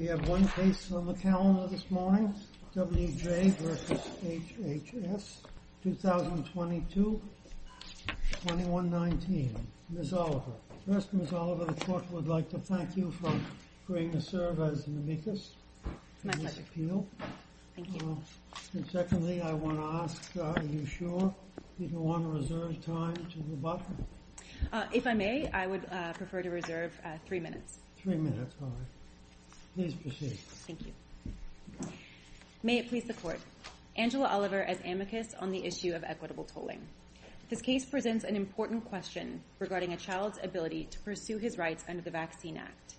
We have one case on the calendar this morning, W. J. v. HHS, 2022, 2119. Ms. Oliver. First, Ms. Oliver, the court would like to thank you for agreeing to serve as the amicus. It's my pleasure. Thank you. And secondly, I want to ask, are you sure you don't want to reserve time to the button? If I may, I would prefer to reserve three minutes. Three minutes, all right. Please proceed. Thank you. May it please the court, Angela Oliver as amicus on the issue of equitable tolling. This case presents an important question regarding a child's ability to pursue his rights under the Vaccine Act.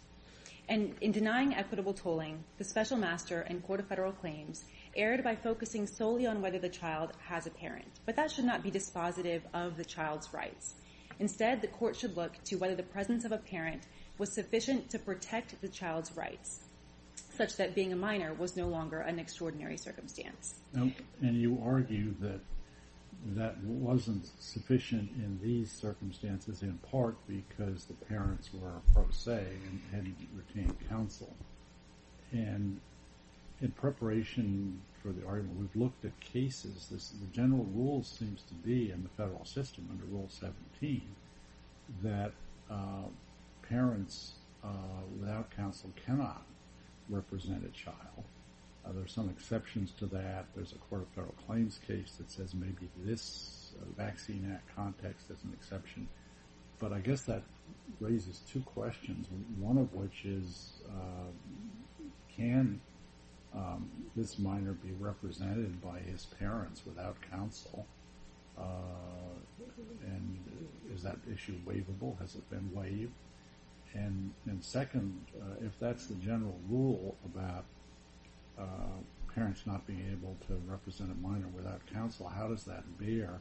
And in denying equitable tolling, the special master and court of federal claims erred by focusing solely on whether the child has a parent. But that should not be dispositive of the child's rights. Instead, the court should look to whether the presence of a parent was sufficient to protect the child's rights, such that being a minor was no longer an extraordinary circumstance. And you argue that that wasn't sufficient in these circumstances, in part because the parents were pro se and retained counsel. And in preparation for the argument, we've looked at cases. The general rule seems to be in the federal system under Rule 17 that parents without counsel cannot represent a child. There are some exceptions to that. There's a court of federal claims case that says maybe this Vaccine Act context is an exception. But I guess that raises two questions. One of which is can this minor be represented by his parents without counsel? And is that issue waivable? Has it been waived? And second, if that's the general rule about parents not being able to represent a minor without counsel, how does that bear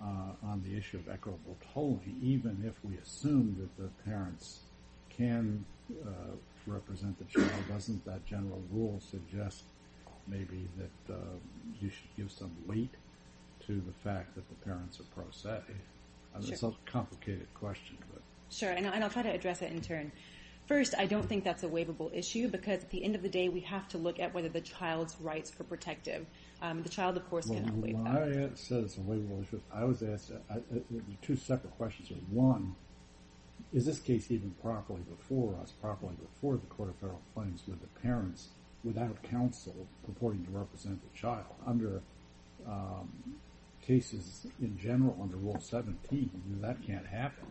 on the issue of equitable tolling? Even if we assume that the parents can represent the child, doesn't that general rule suggest maybe that you should give some weight to the fact that the parents are pro se? It's a complicated question. Sure, and I'll try to address it in turn. First, I don't think that's a waivable issue because at the end of the day, we have to look at whether the child's rights are protective. The child, of course, cannot waive that. Well, when I said it's a waivable issue, I was asked two separate questions. One, is this case even properly before us, properly before the court of federal claims, with the parents without counsel purporting to represent the child under cases in general under Rule 17? That can't happen.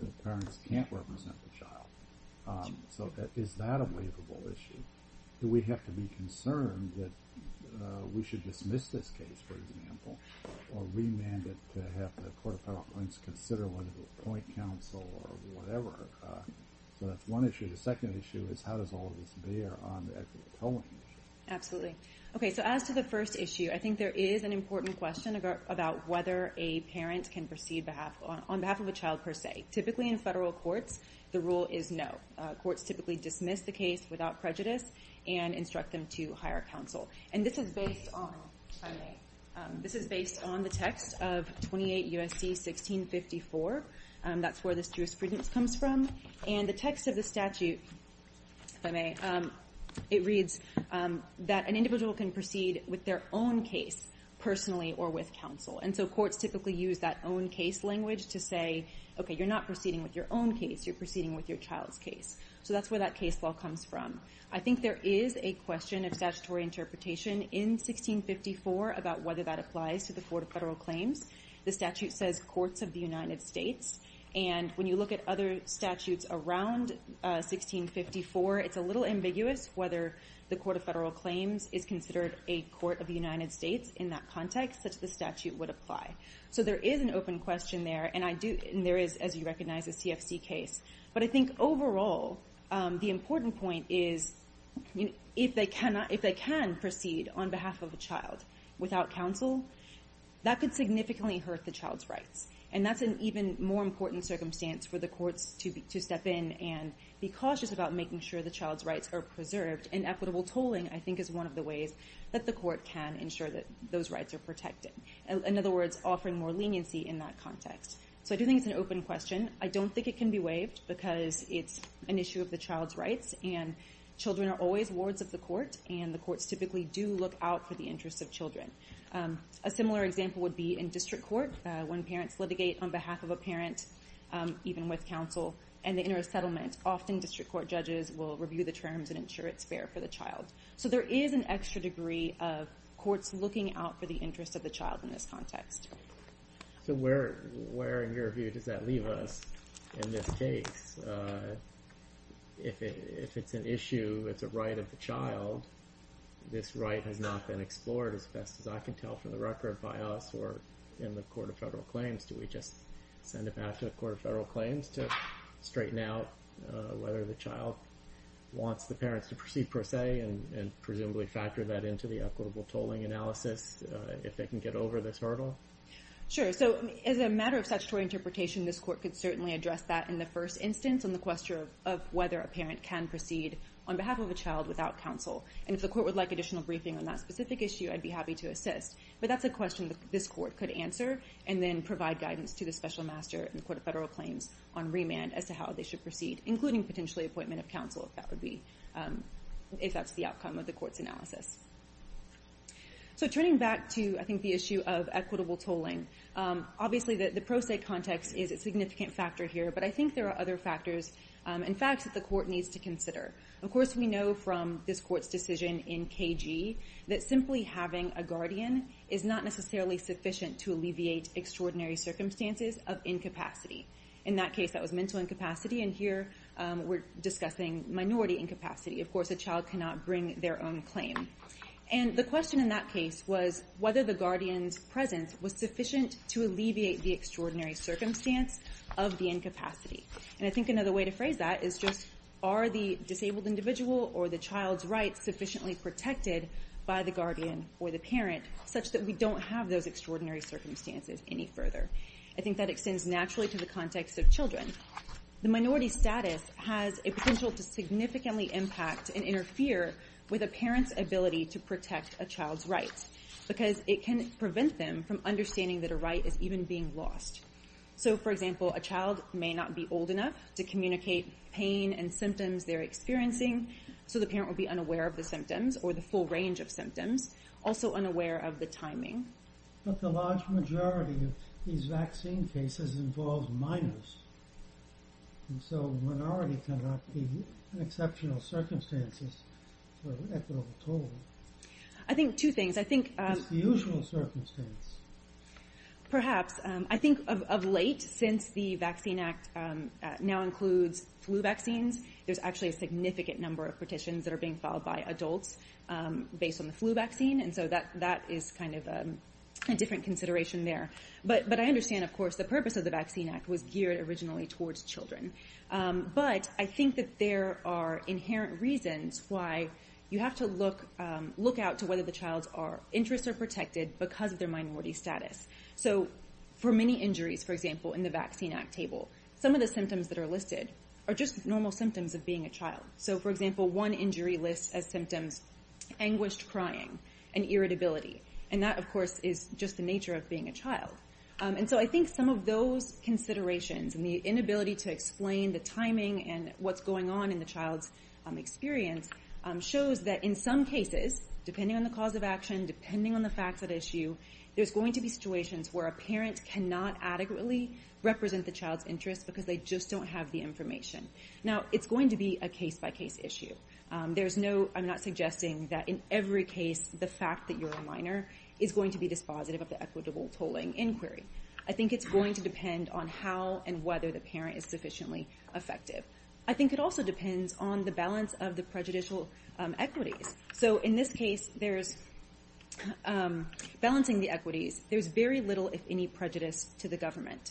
The parents can't represent the child. So is that a waivable issue? Do we have to be concerned that we should dismiss this case, for example, or remand it to have the court of federal claims consider whether to appoint counsel or whatever? So that's one issue. The second issue is how does all of this bear on the equitable tolling issue? Absolutely. Okay, so as to the first issue, I think there is an important question about whether a parent can proceed on behalf of a child per se. Typically in federal courts, the rule is no. Courts typically dismiss the case without prejudice and instruct them to hire counsel. And this is based on the text of 28 U.S.C. 1654. That's where the jurisprudence comes from. And the text of the statute, if I may, it reads that an individual can proceed with their own case personally or with counsel. And so courts typically use that own case language to say, okay, you're not proceeding with your own case. You're proceeding with your child's case. So that's where that case law comes from. I think there is a question of statutory interpretation in 1654 about whether that applies to the court of federal claims. The statute says courts of the United States. And when you look at other statutes around 1654, it's a little ambiguous whether the court of federal claims is considered a court of the United States in that context, such that the statute would apply. So there is an open question there. And there is, as you recognize, a CFC case. But I think overall, the important point is if they can proceed on behalf of a child without counsel, that could significantly hurt the child's rights. And that's an even more important circumstance for the courts to step in and be cautious about making sure the child's rights are preserved. And equitable tolling, I think, is one of the ways that the court can ensure that those rights are protected. In other words, offering more leniency in that context. So I do think it's an open question. I don't think it can be waived because it's an issue of the child's rights. And children are always wards of the court. And the courts typically do look out for the interests of children. A similar example would be in district court. When parents litigate on behalf of a parent, even with counsel, and they enter a settlement, often district court judges will review the terms and ensure it's fair for the child. So there is an extra degree of courts looking out for the interests of the child in this context. So where, in your view, does that leave us in this case? If it's an issue, it's a right of the child, this right has not been explored as best as I can tell from the record by us or in the Court of Federal Claims. Do we just send it back to the Court of Federal Claims to straighten out whether the child wants the parents to proceed per se and presumably factor that into the equitable tolling analysis if they can get over this hurdle? Sure. So as a matter of statutory interpretation, this court could certainly address that in the first instance on the question of whether a parent can proceed on behalf of a child without counsel. And if the court would like additional briefing on that specific issue, I'd be happy to assist. But that's a question that this court could answer and then provide guidance to the special master in the Court of Federal Claims on remand as to how they should proceed, including potentially appointment of counsel if that's the outcome of the court's analysis. So turning back to, I think, the issue of equitable tolling, obviously the pro se context is a significant factor here, but I think there are other factors and facts that the court needs to consider. Of course, we know from this court's decision in KG that simply having a guardian is not necessarily sufficient to alleviate extraordinary circumstances of incapacity. In that case, that was mental incapacity, and here we're discussing minority incapacity. Of course, a child cannot bring their own claim. And the question in that case was whether the guardian's presence was sufficient to alleviate the extraordinary circumstance of the incapacity. And I think another way to phrase that is just are the disabled individual or the child's rights sufficiently protected by the guardian or the parent such that we don't have those extraordinary circumstances any further? I think that extends naturally to the context of children. The minority status has a potential to significantly impact and interfere with a parent's ability to protect a child's rights because it can prevent them from understanding that a right is even being lost. So, for example, a child may not be old enough to communicate pain and symptoms they're experiencing, so the parent will be unaware of the symptoms or the full range of symptoms, also unaware of the timing. But the large majority of these vaccine cases involve minors, and so minorities tend not to be in exceptional circumstances for equitable toll. I think two things. I think… It's the usual circumstance. Perhaps. I think of late, since the Vaccine Act now includes flu vaccines, there's actually a significant number of petitions that are being filed by adults based on the flu vaccine, and so that is kind of a different consideration there. But I understand, of course, the purpose of the Vaccine Act was geared originally towards children. But I think that there are inherent reasons why you have to look out to whether the child's interests are protected because of their minority status. So for many injuries, for example, in the Vaccine Act table, some of the symptoms that are listed are just normal symptoms of being a child. So, for example, one injury lists as symptoms anguished crying and irritability, and that, of course, is just the nature of being a child. And so I think some of those considerations and the inability to explain the timing and what's going on in the child's experience shows that in some cases, depending on the cause of action, depending on the facts at issue, there's going to be situations where a parent cannot adequately represent the child's interests because they just don't have the information. Now, it's going to be a case-by-case issue. I'm not suggesting that in every case the fact that you're a minor is going to be dispositive of the equitable tolling inquiry. I think it's going to depend on how and whether the parent is sufficiently effective. I think it also depends on the balance of the prejudicial equities. So in this case, balancing the equities, there's very little, if any, prejudice to the government.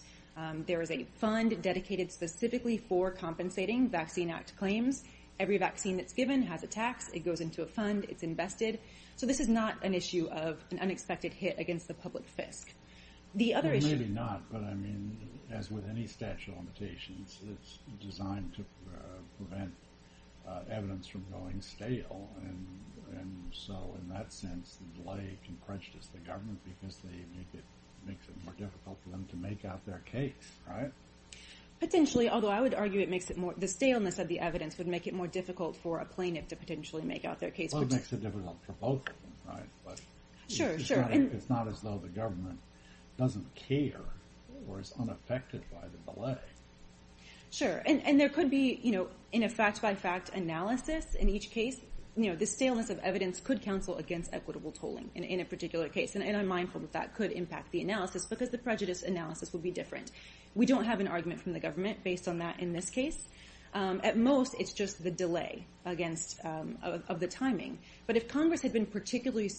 There is a fund dedicated specifically for compensating Vaccine Act claims. Every vaccine that's given has a tax. It goes into a fund. It's invested. So this is not an issue of an unexpected hit against the public fisc. The other issue— Well, maybe not, but, I mean, as with any statute of limitations, it's designed to prevent evidence from going stale. And so in that sense, the belay can prejudice the government because it makes it more difficult for them to make out their case, right? Potentially, although I would argue the staleness of the evidence would make it more difficult for a plaintiff to potentially make out their case. Well, it makes it difficult for both of them, right? Sure, sure. It's not as though the government doesn't care or is unaffected by the belay. Sure. And there could be, you know, in a fact-by-fact analysis in each case, you know, the staleness of evidence could counsel against equitable tolling in a particular case. And I'm mindful that that could impact the analysis because the prejudice analysis would be different. We don't have an argument from the government based on that in this case. At most, it's just the delay of the timing. But if Congress had been particularly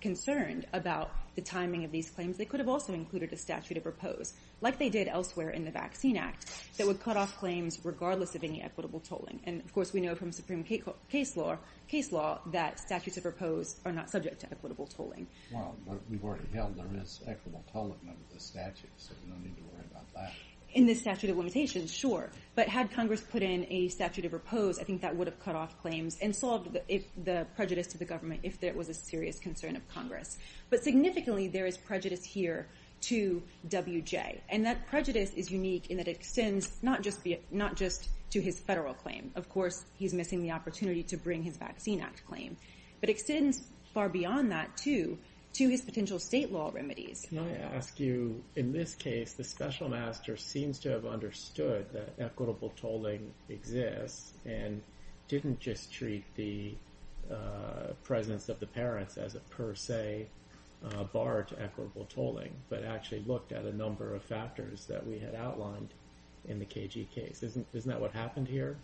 concerned about the timing of these claims, they could have also included a statute of repose, like they did elsewhere in the Vaccine Act, that would cut off claims regardless of any equitable tolling. And, of course, we know from supreme case law that statutes of repose are not subject to equitable tolling. Well, but we've already held there is equitable tolling under the statute, so we don't need to worry about that. In the statute of limitations, sure. But had Congress put in a statute of repose, I think that would have cut off claims and solved the prejudice to the government if there was a serious concern of Congress. But significantly, there is prejudice here to W.J. And that prejudice is unique in that it extends not just to his federal claim. Of course, he's missing the opportunity to bring his Vaccine Act claim. But it extends far beyond that, too, to his potential state law remedies. Can I ask you, in this case, the special master seems to have understood that equitable tolling exists and didn't just treat the presence of the parents as a per se bar to equitable tolling, but actually looked at a number of factors that we had outlined in the KG case. Isn't that what happened here?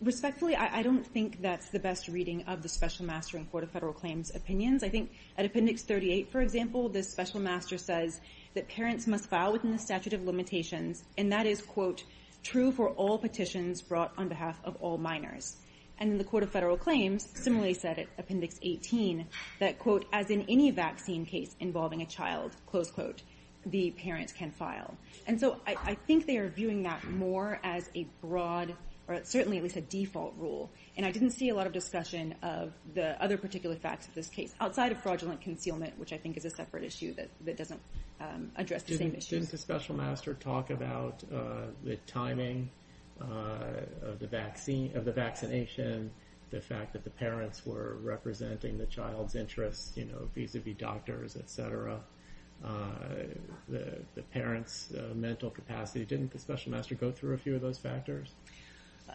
Respectfully, I don't think that's the best reading of the special master in court of federal claims opinions. I think at Appendix 38, for example, this special master says that parents must file within the statute of limitations. And that is, quote, true for all petitions brought on behalf of all minors. And in the court of federal claims, similarly said Appendix 18, that, quote, as in any vaccine case involving a child, close quote, the parents can file. And so I think they are viewing that more as a broad or certainly at least a default rule. And I didn't see a lot of discussion of the other particular facts of this case outside of fraudulent concealment, which I think is a separate issue that doesn't address the same issues. Didn't the special master talk about the timing of the vaccine of the vaccination, the fact that the parents were representing the child's interests, you know, vis-a-vis doctors, et cetera, the parents' mental capacity? Didn't the special master go through a few of those factors?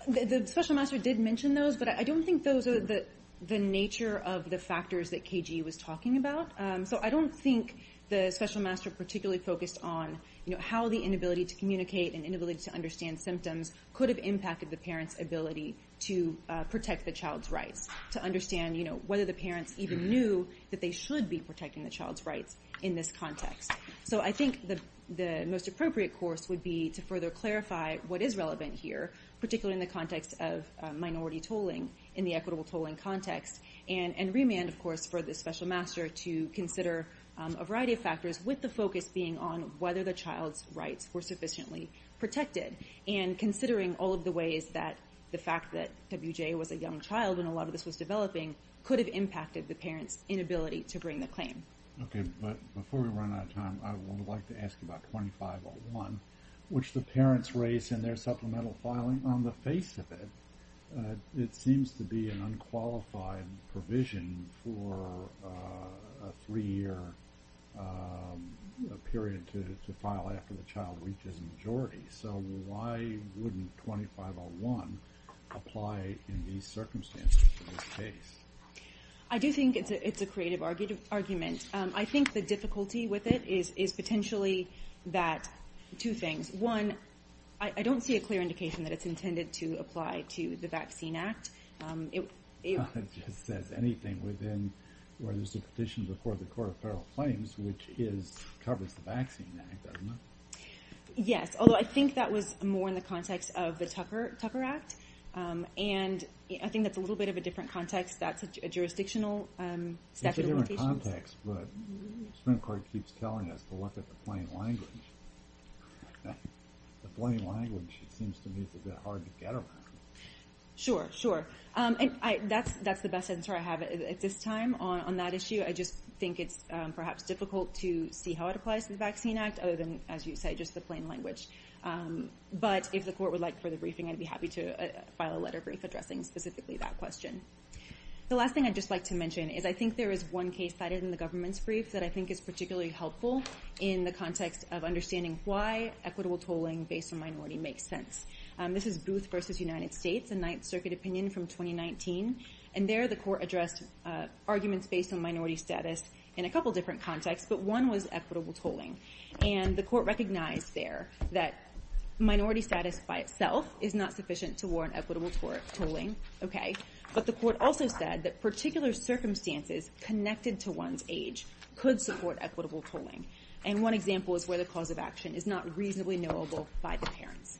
The special master did mention those, but I don't think those are the nature of the factors that KG was talking about. So I don't think the special master particularly focused on how the inability to communicate and inability to understand symptoms could have impacted the parents' ability to protect the child's rights, to understand, you know, whether the parents even knew that they should be protecting the child's rights in this context. So I think the most appropriate course would be to further clarify what is relevant here, particularly in the context of minority tolling, in the equitable tolling context, and remand, of course, for the special master to consider a variety of factors with the focus being on whether the child's rights were sufficiently protected and considering all of the ways that the fact that W.J. was a young child and a lot of this was developing could have impacted the parents' inability to bring the claim. Okay, but before we run out of time, I would like to ask about 2501, which the parents raise in their supplemental filing. On the face of it, it seems to be an unqualified provision for a three-year period to file after the child reaches majority. So why wouldn't 2501 apply in these circumstances in this case? I do think it's a creative argument. I think the difficulty with it is potentially that two things. One, I don't see a clear indication that it's intended to apply to the Vaccine Act. It just says anything within where there's a petition before the Court of Federal Claims, which covers the Vaccine Act, doesn't it? Yes, although I think that was more in the context of the Tucker Act. And I think that's a little bit of a different context. That's a jurisdictional statute of limitations. It's a different context, but the Supreme Court keeps telling us to look at the plain language. The plain language, it seems to me, is a bit hard to get around. Sure, sure. And that's the best answer I have at this time on that issue. I just think it's perhaps difficult to see how it applies to the Vaccine Act other than, as you say, just the plain language. But if the court would like further briefing, I'd be happy to file a letter brief addressing specifically that question. The last thing I'd just like to mention is I think there is one case cited in the government's brief that I think is particularly helpful in the context of understanding why equitable tolling based on minority makes sense. This is Booth v. United States, a Ninth Circuit opinion from 2019. And there the court addressed arguments based on minority status in a couple different contexts, but one was equitable tolling. And the court recognized there that minority status by itself is not sufficient to warrant equitable tolling. Okay. But the court also said that particular circumstances connected to one's age could support equitable tolling. And one example is where the cause of action is not reasonably knowable by the parents.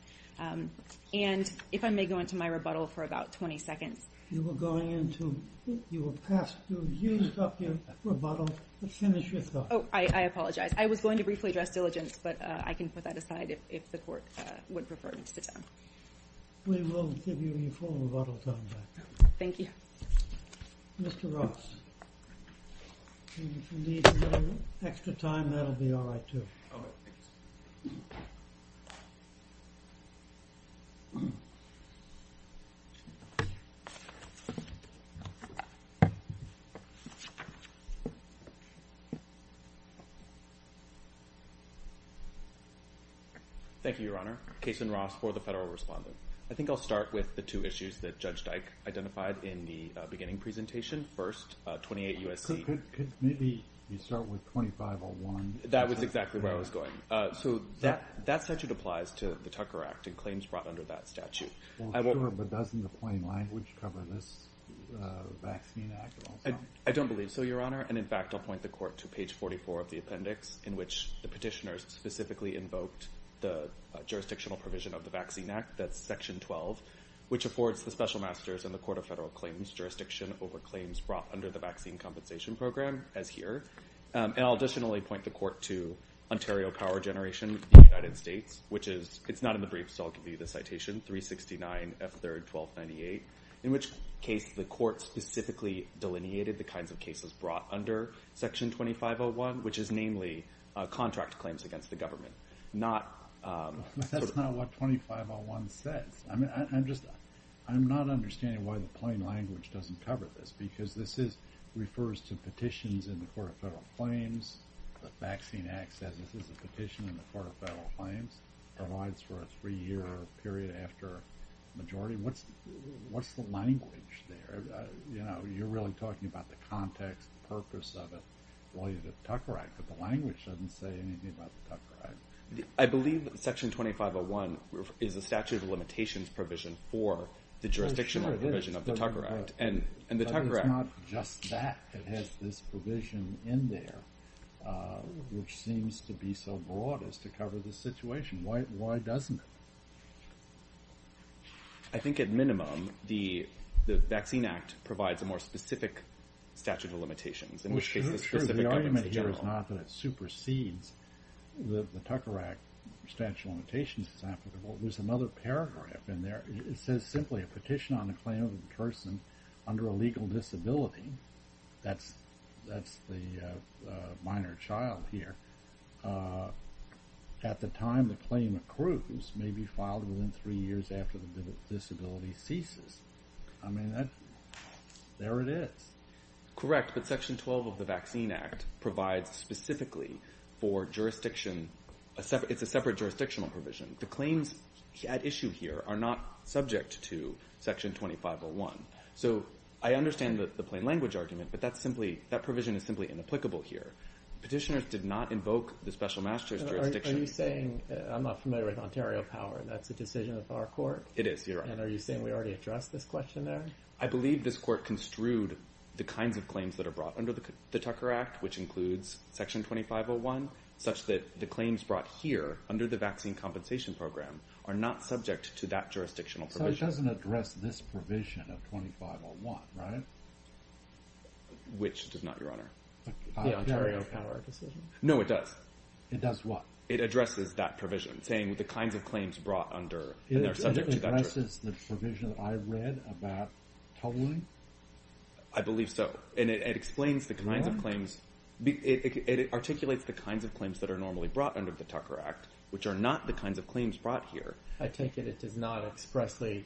And if I may go into my rebuttal for about 20 seconds. You were going into – you were past – you used up your rebuttal. Finish your thought. Oh, I apologize. I was going to briefly address diligence, but I can put that aside if the court would prefer me to sit down. We will give you your full rebuttal time back. Thank you. Mr. Ross, if you need to get an extra time, that will be all right too. Okay. Thank you, Your Honor. Cason Ross for the federal respondent. I think I'll start with the two issues that Judge Dyke identified in the beginning presentation. First, 28 U.S.C. Could maybe you start with 2501? That was exactly where I was going. So that statute applies to the Tucker Act and claims brought under that statute. Well, sure, but doesn't the plain language cover this vaccine act also? I don't believe so, Your Honor. And, in fact, I'll point the court to page 44 of the appendix in which the petitioners specifically invoked the jurisdictional provision of the Vaccine Act. That's section 12, which affords the special masters and the Court of Federal Claims jurisdiction over claims brought under the vaccine compensation program, as here. And I'll additionally point the court to Ontario power generation in the United States, which is – it's not in the brief, so I'll give you the citation, 369F3R1298, in which case the court specifically delineated the kinds of cases brought under section 2501, which is namely contract claims against the government, not – But that's not what 2501 says. I mean, I'm just – I'm not understanding why the plain language doesn't cover this because this is – refers to petitions in the Court of Federal Claims. The Vaccine Act says this is a petition in the Court of Federal Claims, provides for a three-year period after majority. What's the language there? You know, you're really talking about the context, the purpose of it, while you're at the Tucker Act. But the language doesn't say anything about the Tucker Act. I believe section 2501 is a statute of limitations provision for the jurisdictional provision of the Tucker Act. And the Tucker Act – But it's not just that. It has this provision in there, which seems to be so broad as to cover the situation. Why doesn't it? I think at minimum the Vaccine Act provides a more specific statute of limitations, in which case the specific government is the general. Well, sure. The argument here is not that it supersedes the Tucker Act statute of limitations. There's another paragraph in there. It says simply, a petition on the claim of a person under a legal disability – that's the minor child here – at the time the claim accrues may be filed within three years after the disability ceases. I mean, there it is. Correct, but section 12 of the Vaccine Act provides specifically for jurisdiction – it's a separate jurisdictional provision. The claims at issue here are not subject to section 2501. So I understand the plain language argument, but that provision is simply inapplicable here. Petitioners did not invoke the special master's jurisdiction – Are you saying – I'm not familiar with Ontario power. That's a decision of our court? It is, Your Honor. And are you saying we already addressed this question there? I believe this court construed the kinds of claims that are brought under the Tucker Act, which includes section 2501, such that the claims brought here under the Vaccine Compensation Program are not subject to that jurisdictional provision. So it doesn't address this provision of 2501, right? Which does not, Your Honor? The Ontario power decision? No, it does. It does what? It addresses that provision, saying the kinds of claims brought under – and they're subject to that jurisdiction. It addresses the provision I read about Toluene? I believe so, and it explains the kinds of claims – it articulates the kinds of claims that are normally brought under the Tucker Act, which are not the kinds of claims brought here. I take it it does not expressly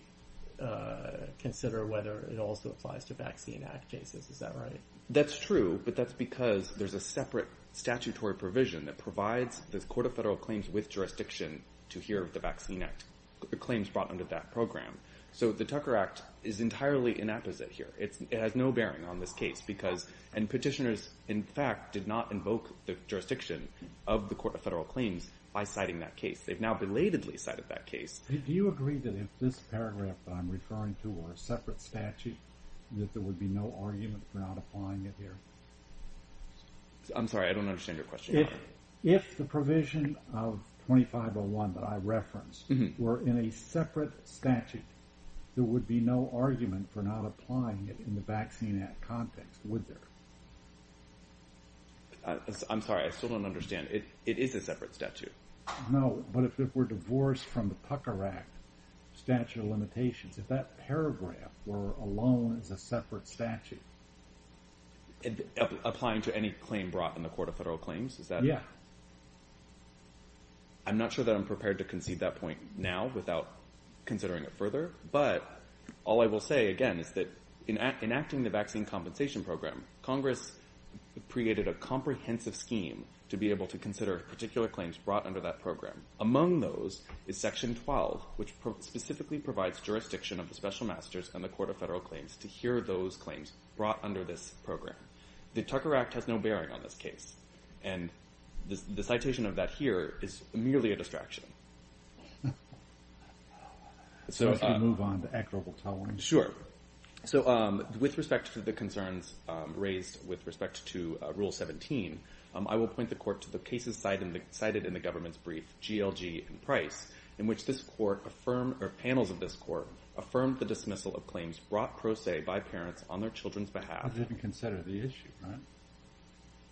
consider whether it also applies to Vaccine Act cases, is that right? That's true, but that's because there's a separate statutory provision that provides the Court of Federal Claims with jurisdiction to hear of the Vaccine Act claims brought under that program. So the Tucker Act is entirely inapposite here. It has no bearing on this case because – and petitioners, in fact, did not invoke the jurisdiction of the Court of Federal Claims by citing that case. They've now belatedly cited that case. Do you agree that if this paragraph that I'm referring to were a separate statute, that there would be no argument for not applying it here? I'm sorry, I don't understand your question. If the provision of 2501 that I referenced were in a separate statute, there would be no argument for not applying it in the Vaccine Act context, would there? I'm sorry, I still don't understand. It is a separate statute. No, but if it were divorced from the Tucker Act statute of limitations, if that paragraph were alone as a separate statute – Applying to any claim brought in the Court of Federal Claims, is that – Yeah. I'm not sure that I'm prepared to concede that point now without considering it further, but all I will say, again, is that in enacting the Vaccine Compensation Program, Congress created a comprehensive scheme to be able to consider particular claims brought under that program. Among those is Section 12, which specifically provides jurisdiction of the Special Masters and the Court of Federal Claims to hear those claims brought under this program. The Tucker Act has no bearing on this case, and the citation of that here is merely a distraction. Shall we move on to accurable tolling? Sure. So with respect to the concerns raised with respect to Rule 17, I will point the Court to the cases cited in the government's brief, GLG and Price, in which this Court affirmed – or panels of this Court affirmed the dismissal of claims brought pro se by parents on their children's behalf. That doesn't consider the issue, right?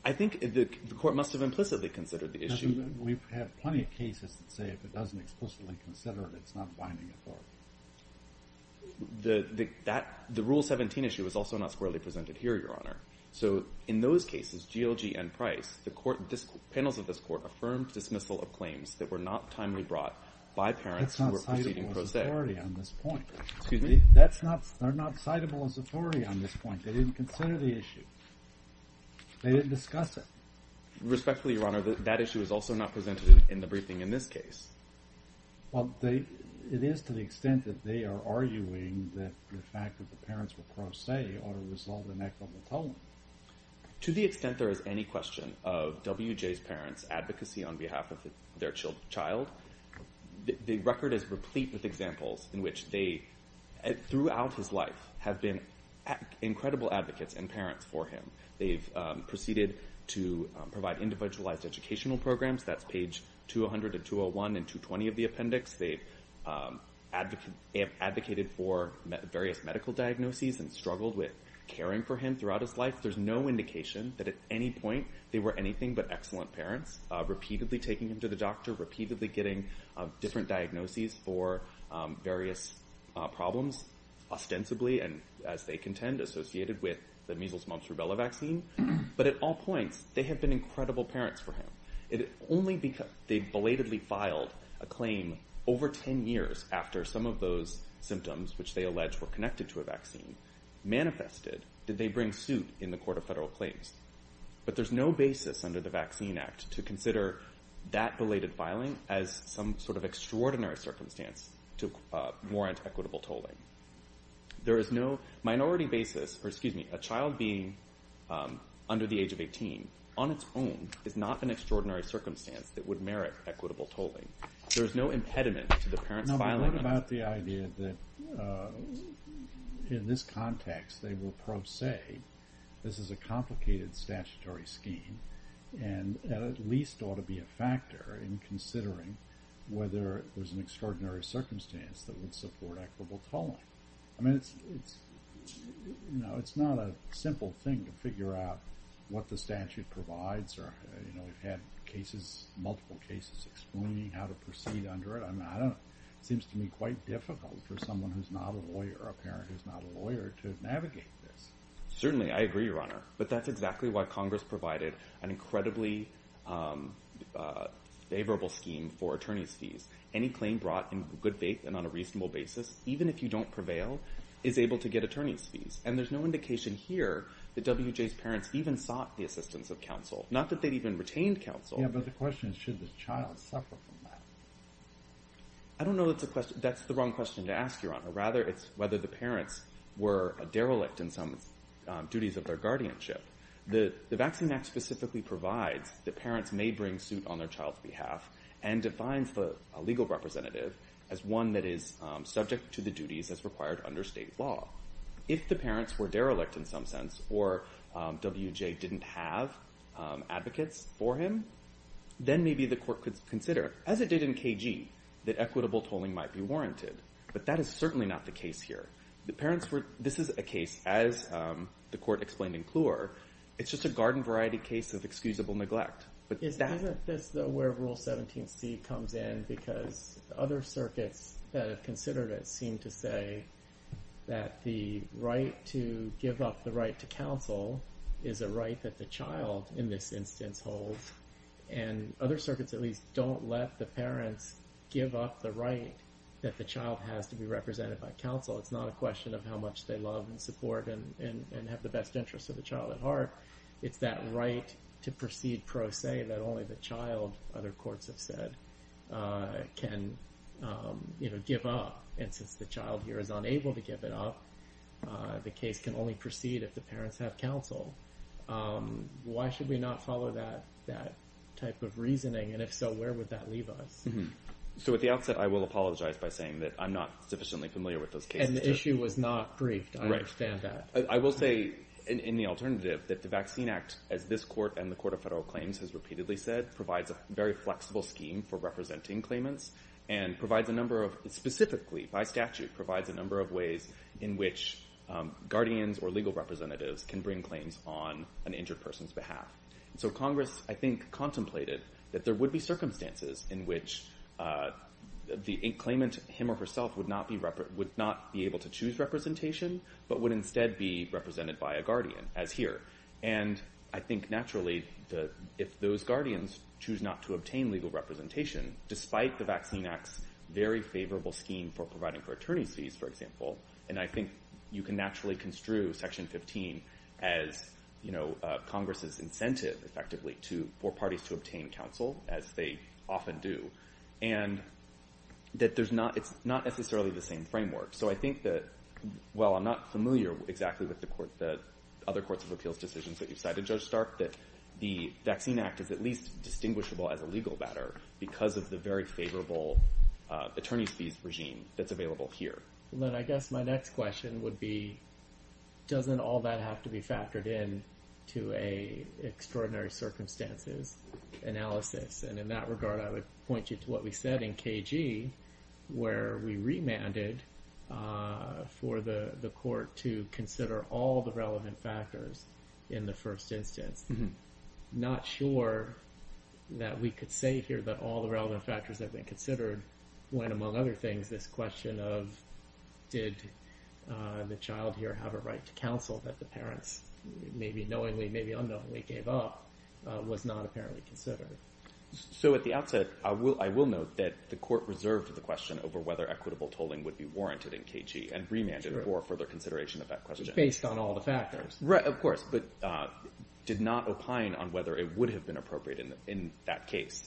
I think the Court must have implicitly considered the issue. We have plenty of cases that say if it doesn't explicitly consider it, it's not binding authority. The Rule 17 issue is also not squarely presented here, Your Honor. So in those cases, GLG and Price, the panels of this Court affirmed dismissal of claims that were not timely brought by parents who were proceeding pro se. That's not citable as authority on this point. Excuse me? They're not citable as authority on this point. They didn't consider the issue. They didn't discuss it. Respectfully, Your Honor, that issue is also not presented in the briefing in this case. Well, it is to the extent that they are arguing that the fact that the parents were pro se ought to resolve an equitable tone. To the extent there is any question of W.J.'s parents' advocacy on behalf of their child, the record is replete with examples in which they, throughout his life, have been incredible advocates and parents for him. They've proceeded to provide individualized educational programs. That's page 200 of 201 and 220 of the appendix. They've advocated for various medical diagnoses and struggled with caring for him throughout his life. There's no indication that at any point they were anything but excellent parents, repeatedly taking him to the doctor, repeatedly getting different diagnoses for various problems, ostensibly, and as they contend, associated with the measles, mumps, rubella vaccine. But at all points, they have been incredible parents for him. They belatedly filed a claim over 10 years after some of those symptoms, which they allege were connected to a vaccine, manifested. Did they bring suit in the court of federal claims? But there's no basis under the Vaccine Act to consider that belated filing as some sort of extraordinary circumstance to warrant equitable tolling. There is no minority basis for, excuse me, a child being under the age of 18, on its own, is not an extraordinary circumstance that would merit equitable tolling. There is no impediment to the parent's filing. What about the idea that in this context, they will pro se, this is a complicated statutory scheme, and at least ought to be a factor in considering whether it was an extraordinary circumstance that would support equitable tolling. I mean, it's not a simple thing to figure out what the statute provides. We've had cases, multiple cases, explaining how to proceed under it. It seems to me quite difficult for someone who's not a lawyer, a parent who's not a lawyer, to navigate this. Certainly, I agree, Your Honor, but that's exactly why Congress provided an incredibly favorable scheme for attorney's fees. Any claim brought in good faith and on a reasonable basis, even if you don't prevail, is able to get attorney's fees. And there's no indication here that W.J.'s parents even sought the assistance of counsel, not that they'd even retained counsel. Yeah, but the question is, should the child suffer from that? I don't know that's the wrong question to ask, Your Honor. Rather, it's whether the parents were derelict in some duties of their guardianship. The Vaccine Act specifically provides that parents may bring suit on their child's behalf and defines a legal representative as one that is subject to the duties as required under state law. If the parents were derelict in some sense, or W.J. didn't have advocates for him, then maybe the court could consider. As it did in KG, that equitable tolling might be warranted, but that is certainly not the case here. This is a case, as the court explained in Kluwer, it's just a garden variety case of excusable neglect. Isn't this where Rule 17c comes in because other circuits that have considered it seem to say that the right to give up the right to counsel is a right that the child in this instance holds, and other circuits at least don't let the parents give up the right that the child has to be represented by counsel. It's not a question of how much they love and support and have the best interest of the child at heart. It's that right to proceed pro se that only the child, other courts have said, can give up. And since the child here is unable to give it up, the case can only proceed if the parents have counsel. Why should we not follow that type of reasoning, and if so, where would that leave us? So at the outset, I will apologize by saying that I'm not sufficiently familiar with those cases. And the issue was not briefed. I understand that. I will say, in the alternative, that the Vaccine Act, as this court and the Court of Federal Claims has repeatedly said, provides a very flexible scheme for representing claimants, and provides a number of, specifically by statute, provides a number of ways in which guardians or legal representatives can bring claims on an injured person's behalf. So Congress, I think, contemplated that there would be circumstances in which the claimant, him or herself, would not be able to choose representation, but would instead be represented by a guardian, as here. And I think, naturally, if those guardians choose not to obtain legal representation, despite the Vaccine Act's very favorable scheme for providing for attorney's fees, for example, and I think you can naturally construe Section 15 as Congress's incentive, effectively, for parties to obtain counsel, as they often do, and that it's not necessarily the same framework. So I think that, while I'm not familiar exactly with the other courts of appeals decisions that you've cited, Judge Stark, that the Vaccine Act is at least distinguishable as a legal matter because of the very favorable attorney's fees regime that's available here. Then I guess my next question would be, doesn't all that have to be factored in to an extraordinary circumstances analysis? And in that regard, I would point you to what we said in KG, where we remanded for the court to consider all the relevant factors in the first instance. Not sure that we could say here that all the relevant factors have been considered when, among other things, this question of, did the child here have a right to counsel that the parents, maybe knowingly, maybe unknowingly, gave up, was not apparently considered. So at the outset, I will note that the court reserved the question over whether equitable tolling would be warranted in KG and remanded for further consideration of that question. Based on all the factors. Right, of course, but did not opine on whether it would have been appropriate in that case.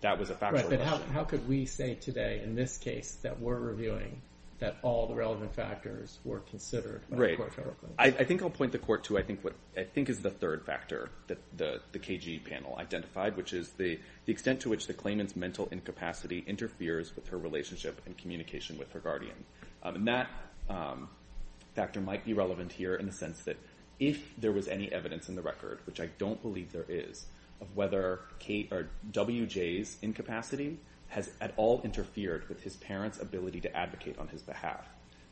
That was a factual question. How could we say today, in this case, that we're reviewing that all the relevant factors were considered? Right. I think I'll point the court to what I think is the third factor that the KG panel identified, which is the extent to which the claimant's mental incapacity interferes with her relationship and communication with her guardian. And that factor might be relevant here in the sense that if there was any evidence in the record, which I don't believe there is, of whether WJ's incapacity has at all interfered with his parents' ability to advocate on his behalf.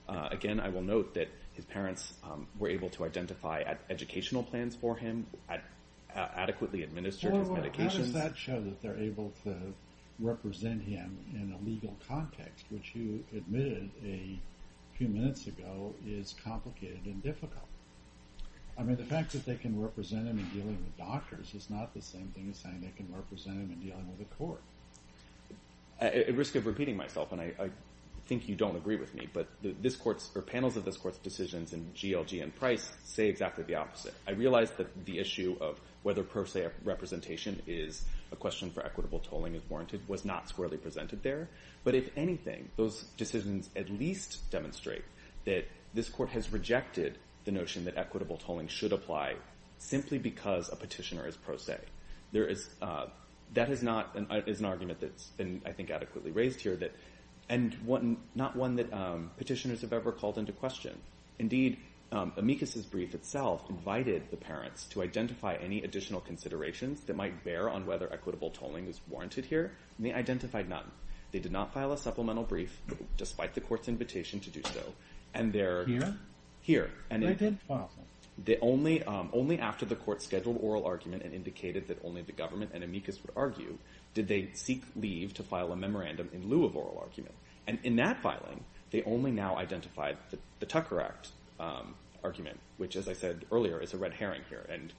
Again, I will note that his parents were able to identify educational plans for him, adequately administered his medications. How does that show that they're able to represent him in a legal context, which you admitted a few minutes ago is complicated and difficult? I mean, the fact that they can represent him in dealing with doctors is not the same thing as saying they can represent him in dealing with the court. At risk of repeating myself, and I think you don't agree with me, but panels of this court's decisions in GLG and Price say exactly the opposite. I realize that the issue of whether pro se representation is a question for equitable tolling is warranted was not squarely presented there. But if anything, those decisions at least demonstrate that this court has rejected the notion that equitable tolling should apply simply because a petitioner is pro se. That is an argument that's been, I think, adequately raised here, and not one that petitioners have ever called into question. Indeed, Amicus' brief itself invited the parents to identify any additional considerations that might bear on whether equitable tolling is warranted here, and they identified none. They did not file a supplemental brief, despite the court's invitation to do so. Here? Here. They did? Only after the court scheduled oral argument and indicated that only the government and Amicus would argue, did they seek leave to file a memorandum in lieu of oral argument. And in that filing, they only now identified the Tucker Act argument, which, as I said earlier, is a red herring here and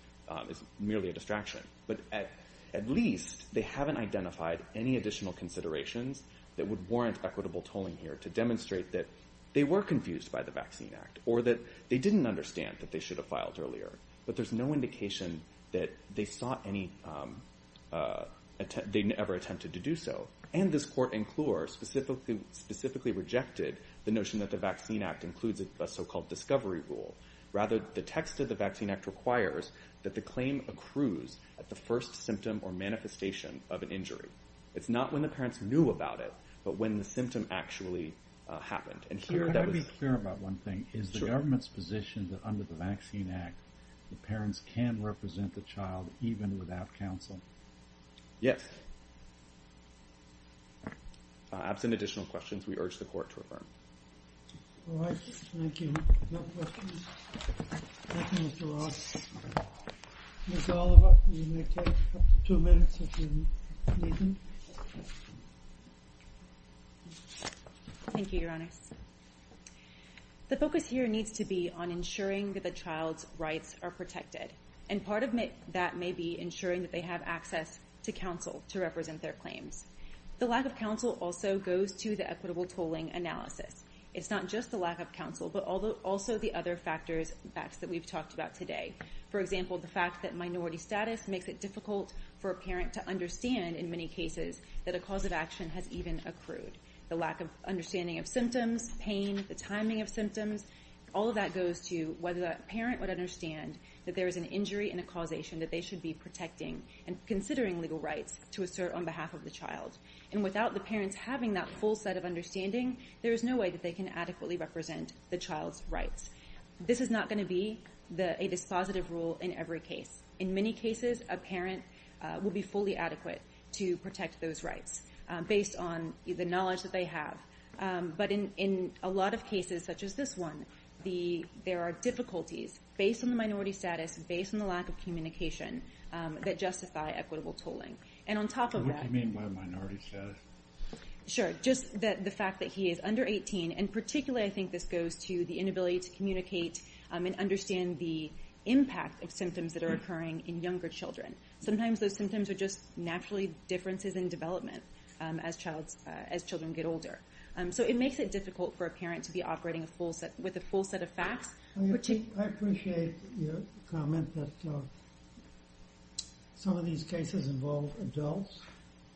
is merely a distraction. But at least they haven't identified any additional considerations that would warrant equitable tolling here to demonstrate that they were confused by the Vaccine Act or that they didn't understand that they should have filed earlier. But there's no indication that they never attempted to do so. And this court in Clure specifically rejected the notion that the Vaccine Act includes a so-called discovery rule. Rather, the text of the Vaccine Act requires that the claim accrues at the first symptom or manifestation of an injury. It's not when the parents knew about it, but when the symptom actually happened. Let me be clear about one thing. Is the government's position that under the Vaccine Act, the parents can represent the child even without counsel? Yes. Absent additional questions, we urge the court to affirm. All right. Thank you. No questions. Thank you, Mr. Ross. Ms. Oliver, you may take two minutes if you need to. Thank you, Your Honor. The focus here needs to be on ensuring that the child's rights are protected. And part of that may be ensuring that they have access to counsel to represent their claims. The lack of counsel also goes to the equitable tolling analysis. It's not just the lack of counsel, but also the other factors that we've talked about today. For example, the fact that minority status makes it difficult for a parent to understand, in many cases, that a cause of action has even accrued. The lack of understanding of symptoms, pain, the timing of symptoms, all of that goes to whether that parent would understand that there is an injury and a causation that they should be protecting and considering legal rights to assert on behalf of the child. And without the parents having that full set of understanding, there is no way that they can adequately represent the child's rights. This is not going to be a dispositive rule in every case. In many cases, a parent will be fully adequate to protect those rights based on the knowledge that they have. But in a lot of cases, such as this one, there are difficulties based on the minority status, based on the lack of communication, that justify equitable tolling. And on top of that – What do you mean by minority status? Sure. Just the fact that he is under 18. And particularly, I think this goes to the inability to communicate and understand the impact of symptoms that are occurring in younger children. Sometimes those symptoms are just naturally differences in development as children get older. So it makes it difficult for a parent to be operating with a full set of facts. I appreciate your comment that some of these cases involve adults.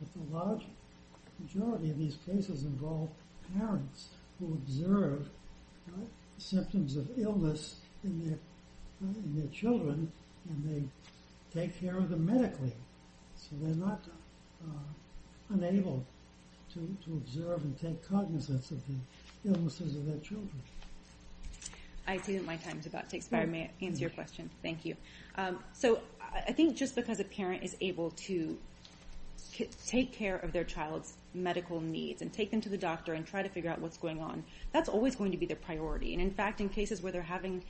But the large majority of these cases involve parents who observe symptoms of illness in their children and they take care of them medically. So they're not unable to observe and take cognizance of the illnesses of their children. I see that my time is about to expire. May I answer your question? Thank you. So I think just because a parent is able to take care of their child's medical needs and take them to the doctor and try to figure out what's going on, that's always going to be their priority. And in fact, in cases where they're having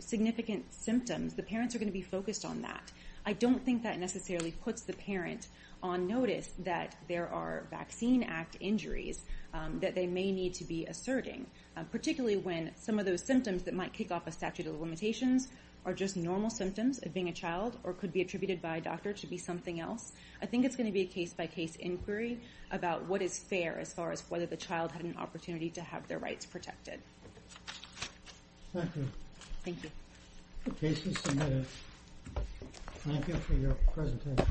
significant symptoms, the parents are going to be focused on that. I don't think that necessarily puts the parent on notice that there are Vaccine Act injuries that they may need to be asserting. Particularly when some of those symptoms that might kick off a statute of limitations are just normal symptoms of being a child or could be attributed by a doctor to be something else. I think it's going to be a case-by-case inquiry about what is fair as far as whether the child had an opportunity to have their rights protected. Thank you. Thank you. The case is submitted. Thank you for your presentation.